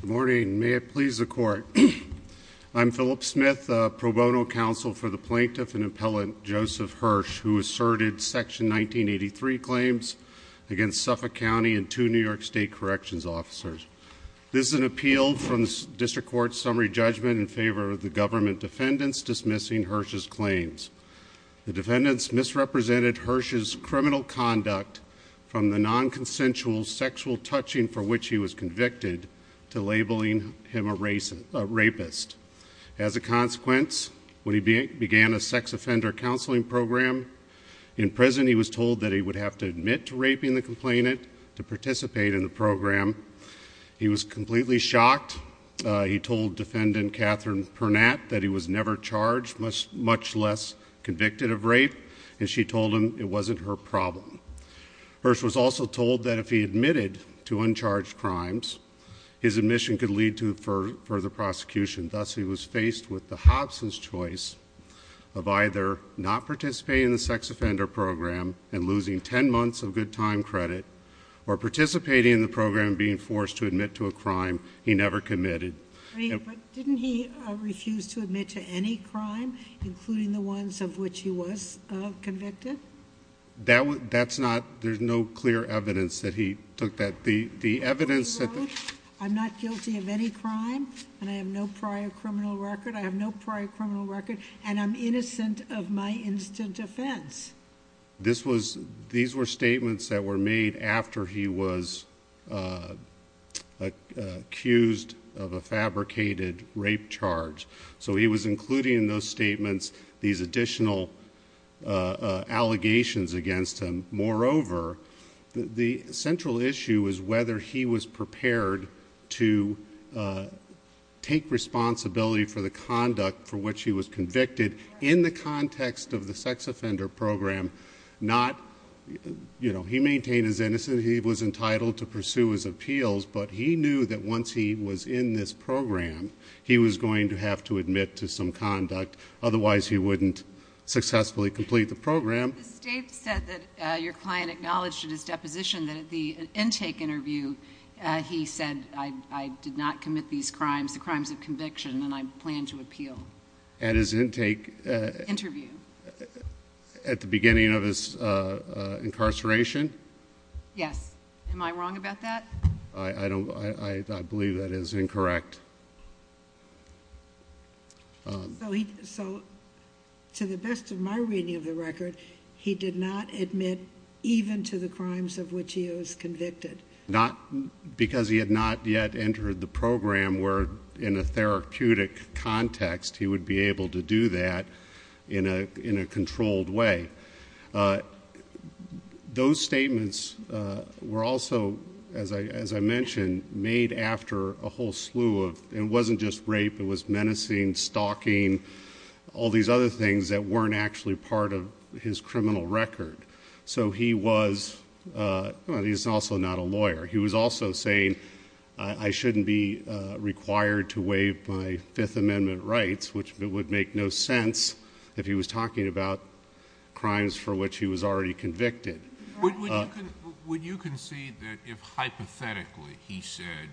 Good morning. May it please the court. I'm Philip Smith, pro bono counsel for the plaintiff and appellant Joseph Hirsch, who asserted section 1983 claims against Suffolk County and two New York state corrections officers. This is an appeal from the district court summary judgment in favor of the government defendants dismissing Hirsch's claims. The defendants misrepresented Hirsch's criminal conduct from the non-consensual sexual touching for which he was convicted to labeling him a rapist. As a consequence, when he began a sex offender counseling program in prison, he was told that he would have to admit to raping the complainant to participate in the program. He was completely shocked. He told defendant Katherine Purnatt that he was never charged, much less convicted of rape, and she told him it wasn't her his admission could lead to further prosecution. Thus, he was faced with the Hobson's choice of either not participating in the sex offender program and losing 10 months of good time credit or participating in the program, being forced to admit to a crime he never committed. But didn't he refuse to admit to any crime, including the ones of which he was convicted? That that's not there's no clear evidence that he took that the evidence that I'm not guilty of any crime and I have no prior criminal record. I have no prior criminal record and I'm innocent of my instant offense. This was these were statements that were made after he was, uh, accused of a fabricated rape charge. So he was including those statements, these additional, uh, allegations against him. Moreover, the central issue is whether he was prepared to, uh, take responsibility for the conduct for which he was convicted in the context of the sex offender program. Not, you know, he maintained his innocence. He was entitled to pursue his appeals, but he was going to have to admit to some conduct. Otherwise, he wouldn't successfully complete the program. State said that your client acknowledged in his deposition that the intake interview, he said, I did not commit these crimes, the crimes of conviction and I plan to appeal at his intake interview at the beginning of his incarceration. Yes. Am I wrong about that? I don't I believe that is incorrect. Um, so he so to the best of my reading of the record, he did not admit even to the crimes of which he was convicted, not because he had not yet entered the program where in a therapeutic context, he would be able to do that in a in a controlled way. Uh, those statements were also, as I, as I was menacing, stalking all these other things that weren't actually part of his criminal record. So he was, uh, he's also not a lawyer. He was also saying I shouldn't be required to wave my Fifth Amendment rights, which would make no sense if he was talking about crimes for which he was already convicted. Would you concede that if, hypothetically, he said,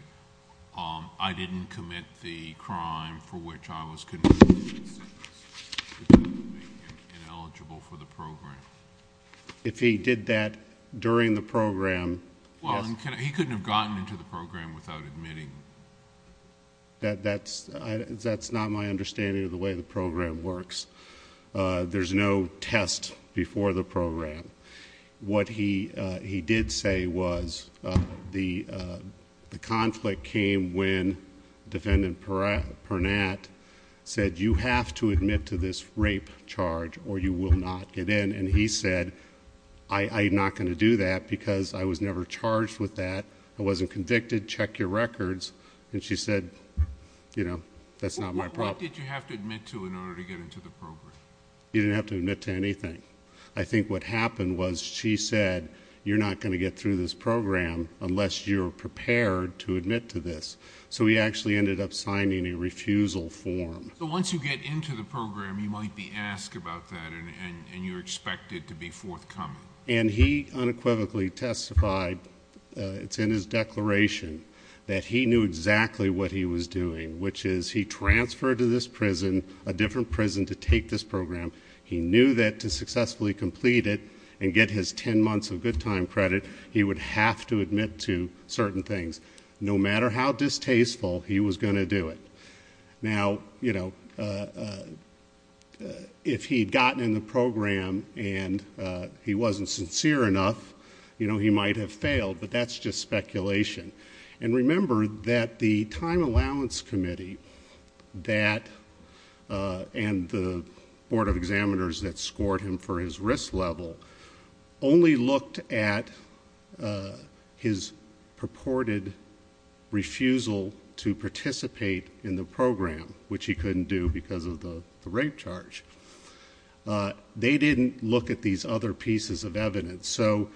um, I didn't commit the crime for which I was ineligible for the program? If he did that during the program, well, he couldn't have gotten into the program without admitting that that's that's not my understanding of the way the program works. Uh, there's no test before the program. What he did say was, uh, the, uh, the came when Defendant Pernatt said, You have to admit to this rape charge or you will not get in. And he said, I'm not going to do that because I was never charged with that. I wasn't convicted. Check your records. And she said, you know, that's not my problem. Did you have to admit to in order to get into the program? You didn't have to admit to anything. I think what happened was she said, You're not going to get through this program unless you're prepared to admit to this. So we actually ended up signing a refusal form. So once you get into the program, you might be asked about that, and you're expected to be forthcoming. And he unequivocally testified. It's in his declaration that he knew exactly what he was doing, which is he transferred to this prison, a different prison to take this program. He knew that to successfully complete it and get his 10 months of good time credit, he would have to admit to certain things, no matter how distasteful he was going to do it. Now, you know, uh, if he'd gotten in the program and he wasn't sincere enough, you know, he might have failed. But that's just speculation. And remember that the time allowance committee that, uh, and the board of his purported refusal to participate in the program, which he couldn't do because of the rape charge. Uh, they didn't look at these other pieces of evidence. So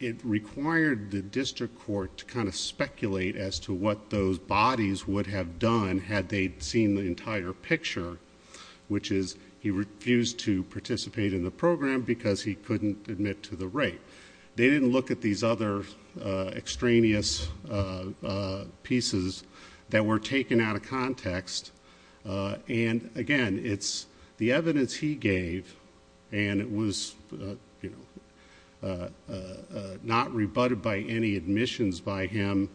it required the district court to kind of speculate as to what those bodies would have done had they seen the entire picture, which is he refused to participate in the program because he couldn't admit to the rape. They didn't look at these other extraneous, uh, pieces that were taken out of context. Uh, and again, it's the evidence he gave, and it was, uh, not rebutted by any admissions by him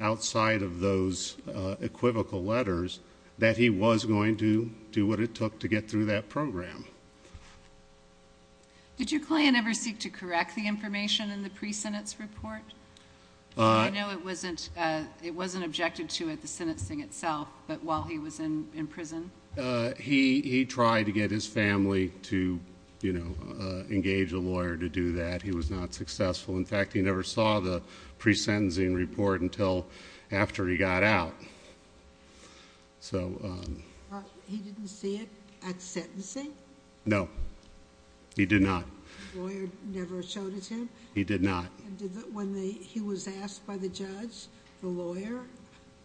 outside of those equivocal letters that he was going to do what it took to get through that program. Okay. Did your client ever seek to correct the information in the pre sentence report? I know it wasn't. It wasn't objected to it. The sentencing itself. But while he was in prison, he tried to get his family to, you know, engage a lawyer to do that. He was not successful. In fact, he never saw the pre sentencing report until after he got out. So, um, he didn't see it at sentencing. No, he did not. Lawyer never showed it to him. He did not. When he was asked by the judge, the lawyer,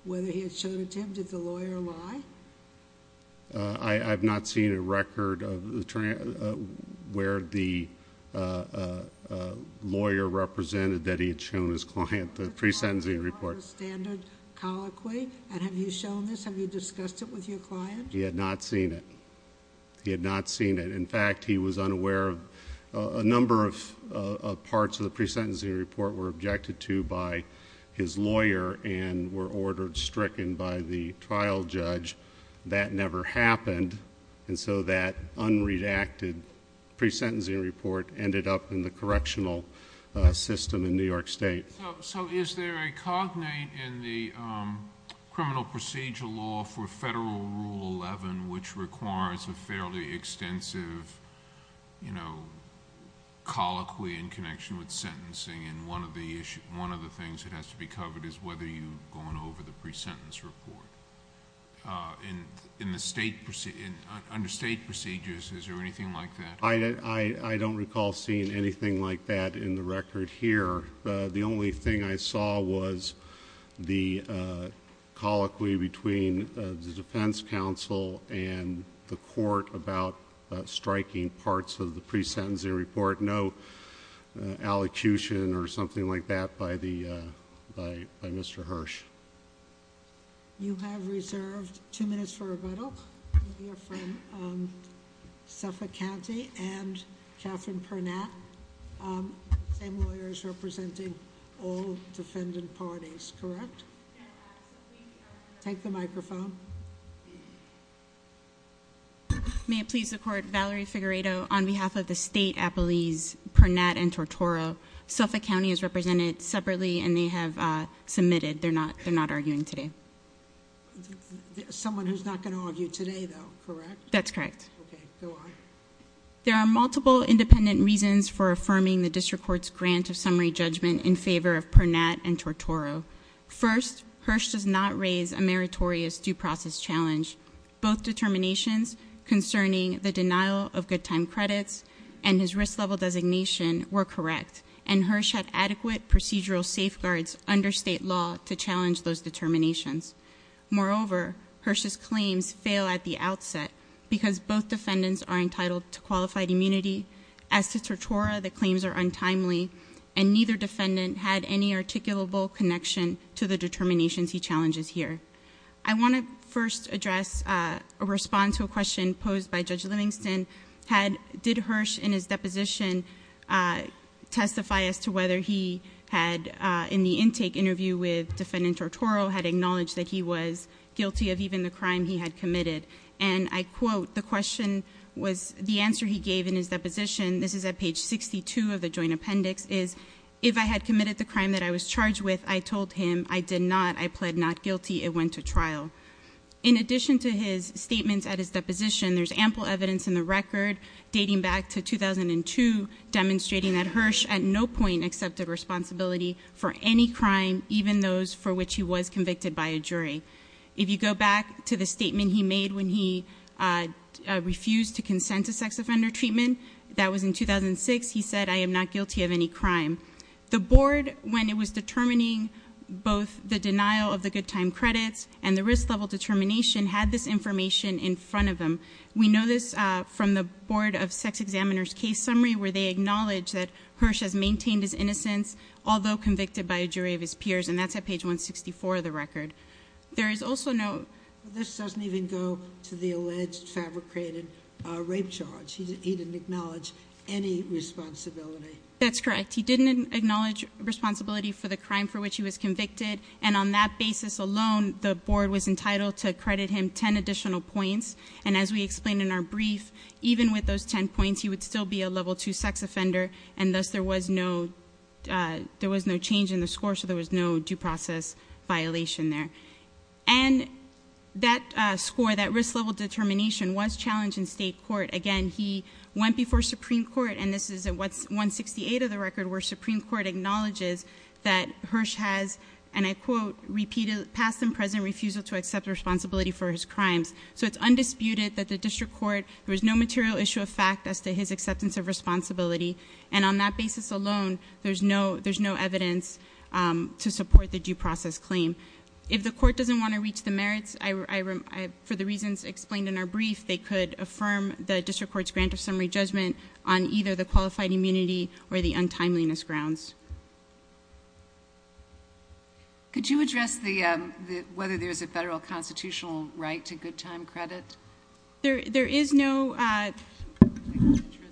whether he had shown it to him. Did the lawyer lie? I have not seen a record of where the, uh, lawyer represented that he had shown his client the pre sentencing report standard colloquy. And have you shown this? Have you discussed it with your client? He had not seen it. He had not seen it. In fact, he was unaware of a number of parts of the pre sentencing report were objected to by his lawyer and were ordered stricken by the trial judge. That never happened. And so that unreacted pre sentencing report ended up in the correctional system in New York State. So is there a cognate in the, um, criminal procedure law for federal rule 11, which requires a fairly extensive, you know, colloquy in connection with sentencing? And one of the issue, one of the things that has to be covered is whether you've gone over the pre sentence report. Uh, in in the state proceeding under state procedures. Is there anything like that? I don't recall seeing anything like that in the record here. The only thing I saw was the, uh, colloquy between the defense counsel and the court about striking parts of the pre sentencing report. No, uh, allocution or something like that by the by Mr Hirsch. You have reserved two minutes for rebuttal. You're from, um, Suffolk County and Catherine Purnett. Um, same lawyers representing all defendant parties. Correct. Take the microphone. May it please the court. Valerie Figueredo. On behalf of the state appellees, Purnett and Tortoro, Suffolk County is represented separately, and they have submitted. They're not. They're not arguing today. Someone who's not going to argue today, though, correct? That's correct. There are multiple independent reasons for affirming the district court's grant of summary judgment in favor of Purnett and Tortoro. First, Hirsch does not raise a meritorious due process challenge. Both determinations concerning the denial of good time credits and his risk level designation were correct, and Hirsch had adequate procedural safeguards under state law to challenge those determinations. Moreover, Hirsch's claims fail at the outset because both defendants are entitled to qualified immunity. As to Tortoro, the claims are untimely, and neither defendant had any articulable connection to the determinations he challenges here. I want to first address a response to a question posed by Judge Livingston. Had did Hirsch in his deposition testify as to whether he had, in the intake interview with defendant Tortoro, had acknowledged that he was guilty of even the crime he had committed? And I quote, the question was, the answer he gave in his deposition, this is at page 62 of the joint appendix, is, if I had committed the crime that I was charged with, I told him I did not. I pled not guilty. It went to trial. In addition to his statements at his deposition, there's ample evidence in the record dating back to 2002 demonstrating that Hirsch at no point accepted responsibility for any crime, even those for which he was convicted by a jury. If you go back to the statement he made when he refused to consent to sex offender treatment, that was in 2006. He said, I am not guilty of any crime. The board, when it was determining both the denial of the good time credits and the risk level determination, had this information in from the board of sex examiners case summary, where they acknowledge that Hirsch has maintained his innocence, although convicted by a jury of his peers. And that's at page 164 of the record. There is also no, this doesn't even go to the alleged fabricated rape charge. He didn't acknowledge any responsibility. That's correct. He didn't acknowledge responsibility for the crime for which he was convicted. And on that basis alone, the board was even with those 10 points, he would still be a level two sex offender. And thus there was no, there was no change in the score. So there was no due process violation there. And that score, that risk level determination was challenged in state court. Again, he went before Supreme Court and this is at 168 of the record where Supreme Court acknowledges that Hirsch has, and I quote, repeated past and present refusal to accept responsibility for his crimes. So it's undisputed that the district court, there was no material issue of fact as to his acceptance of responsibility. And on that basis alone, there's no, there's no evidence, um, to support the due process claim. If the court doesn't want to reach the merits, I, for the reasons explained in our brief, they could affirm the district court's grant of summary judgment on either the qualified immunity or the untimeliness grounds. Could you address the, um, the, whether there's a federal constitutional right to good time credit? There, there is no, uh,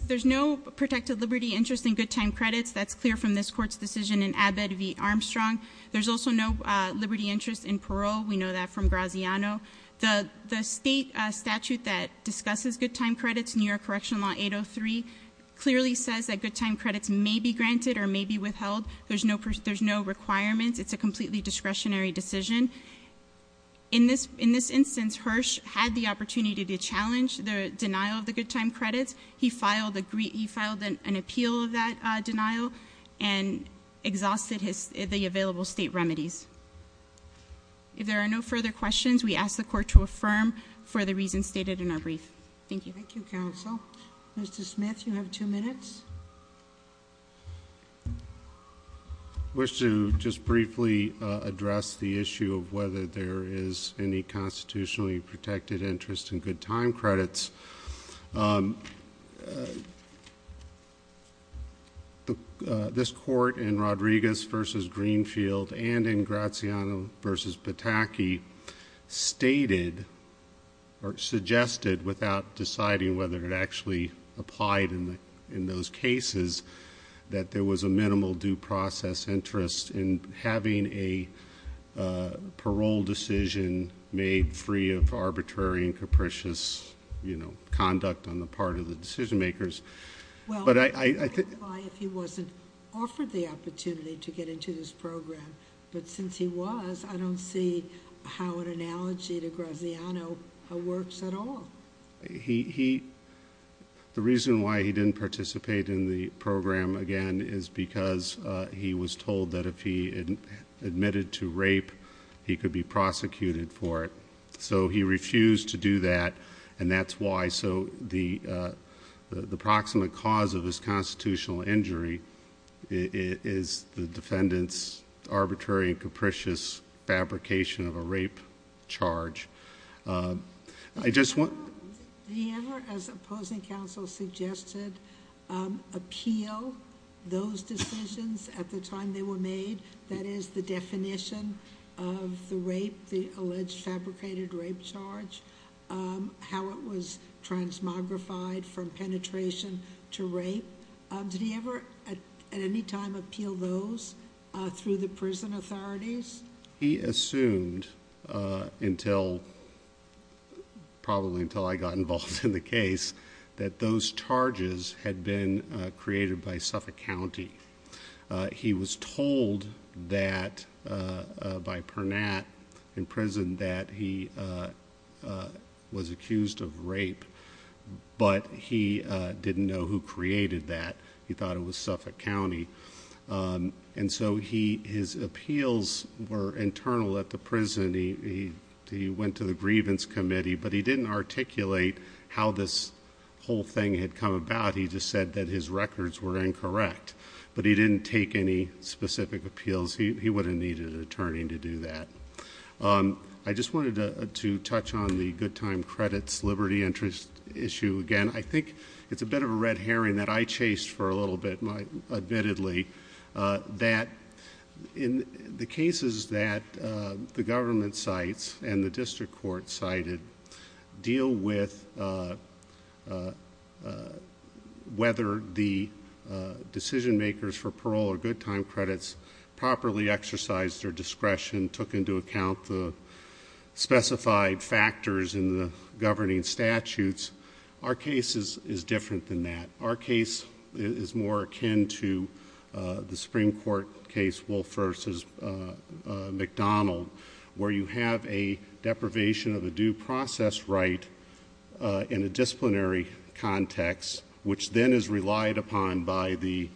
there's no protected liberty interest in good time credits. That's clear from this court's decision in Abbott v. Armstrong. There's also no, uh, liberty interest in parole. We know that from Graziano. The, the state statute that discusses good time credits, New York Correctional Law 803 clearly says that good time credits may be granted or may be withheld. There's no, there's no requirements. It's a completely discretionary decision. In this, in this instance, Hirsch had the opportunity to challenge the denial of the good time credits. He filed a, he filed an appeal of that, uh, denial and exhausted his, the available state remedies. If there are no further questions, we ask the court to affirm for the reasons stated in our brief. Thank you. Thank you, counsel. Mr Smith, you have two minutes. I wish to just briefly address the issue of whether there is any constitutionally protected interest in good time credits. Um, the, uh, this court in Rodriguez v. Greenfield and in Graziano v. Pataki stated or suggested without deciding whether it actually applied in the, in that there was a minimal due process interest in having a, uh, parole decision made free of arbitrary and capricious, you know, conduct on the part of the decision makers. But I, I think, why if he wasn't offered the opportunity to get into this program, but since he was, I don't see how an analogy to Graziano works at all. He, he, the reason why he didn't participate in the program again is because he was told that if he admitted to rape, he could be prosecuted for it. So he refused to do that. And that's why. So the, uh, the approximate cause of this constitutional injury is the defendant's arbitrary and capricious fabrication of a rape charge. Uh, I never, as opposing counsel suggested, um, appeal those decisions at the time they were made. That is the definition of the rape, the alleged fabricated rape charge, how it was transmogrified from penetration to rape. Did he ever at any time appeal those through the prison authorities? He assumed, uh, until probably until I got involved in the case that those charges had been created by Suffolk County. Uh, he was told that, uh, by Pernat in prison that he, uh, was accused of rape, but he didn't know who created that. He thought it was Suffolk County. Um, and so he, his appeals were internal at the prison. He went to the grievance committee, but he didn't articulate how this whole thing had come about. He just said that his records were incorrect, but he didn't take any specific appeals. He wouldn't need an attorney to do that. Um, I just wanted to touch on the good time credits liberty interest issue again. I think it's a bit of a red herring that I the government sites and the district court cited deal with, uh, uh, whether the decision makers for parole or good time credits properly exercised their discretion, took into account the specified factors in the governing statutes. Our cases is different than that. Our case is more akin to, uh, the a deprivation of the due process right, uh, in a disciplinary context, which then is relied upon by the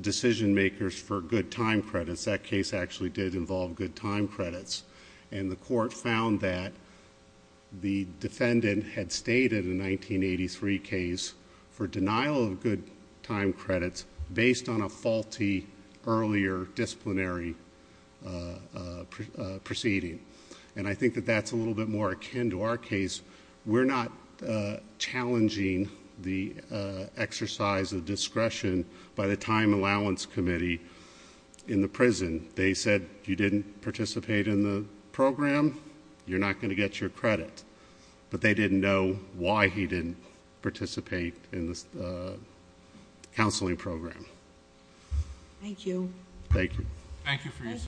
decision makers for good time credits. That case actually did involve good time credits and the court found that the defendant had stated in 1983 case for denial of good time credits based on a faulty earlier disciplinary, uh, proceeding. And I think that that's a little bit more akin to our case. We're not challenging the exercise of discretion by the time allowance committee in the prison. They said you didn't participate in the program. You're not going to get your credit, but they didn't know why he didn't participate in this, uh, counseling program. Thank you. Thank you. Thank you for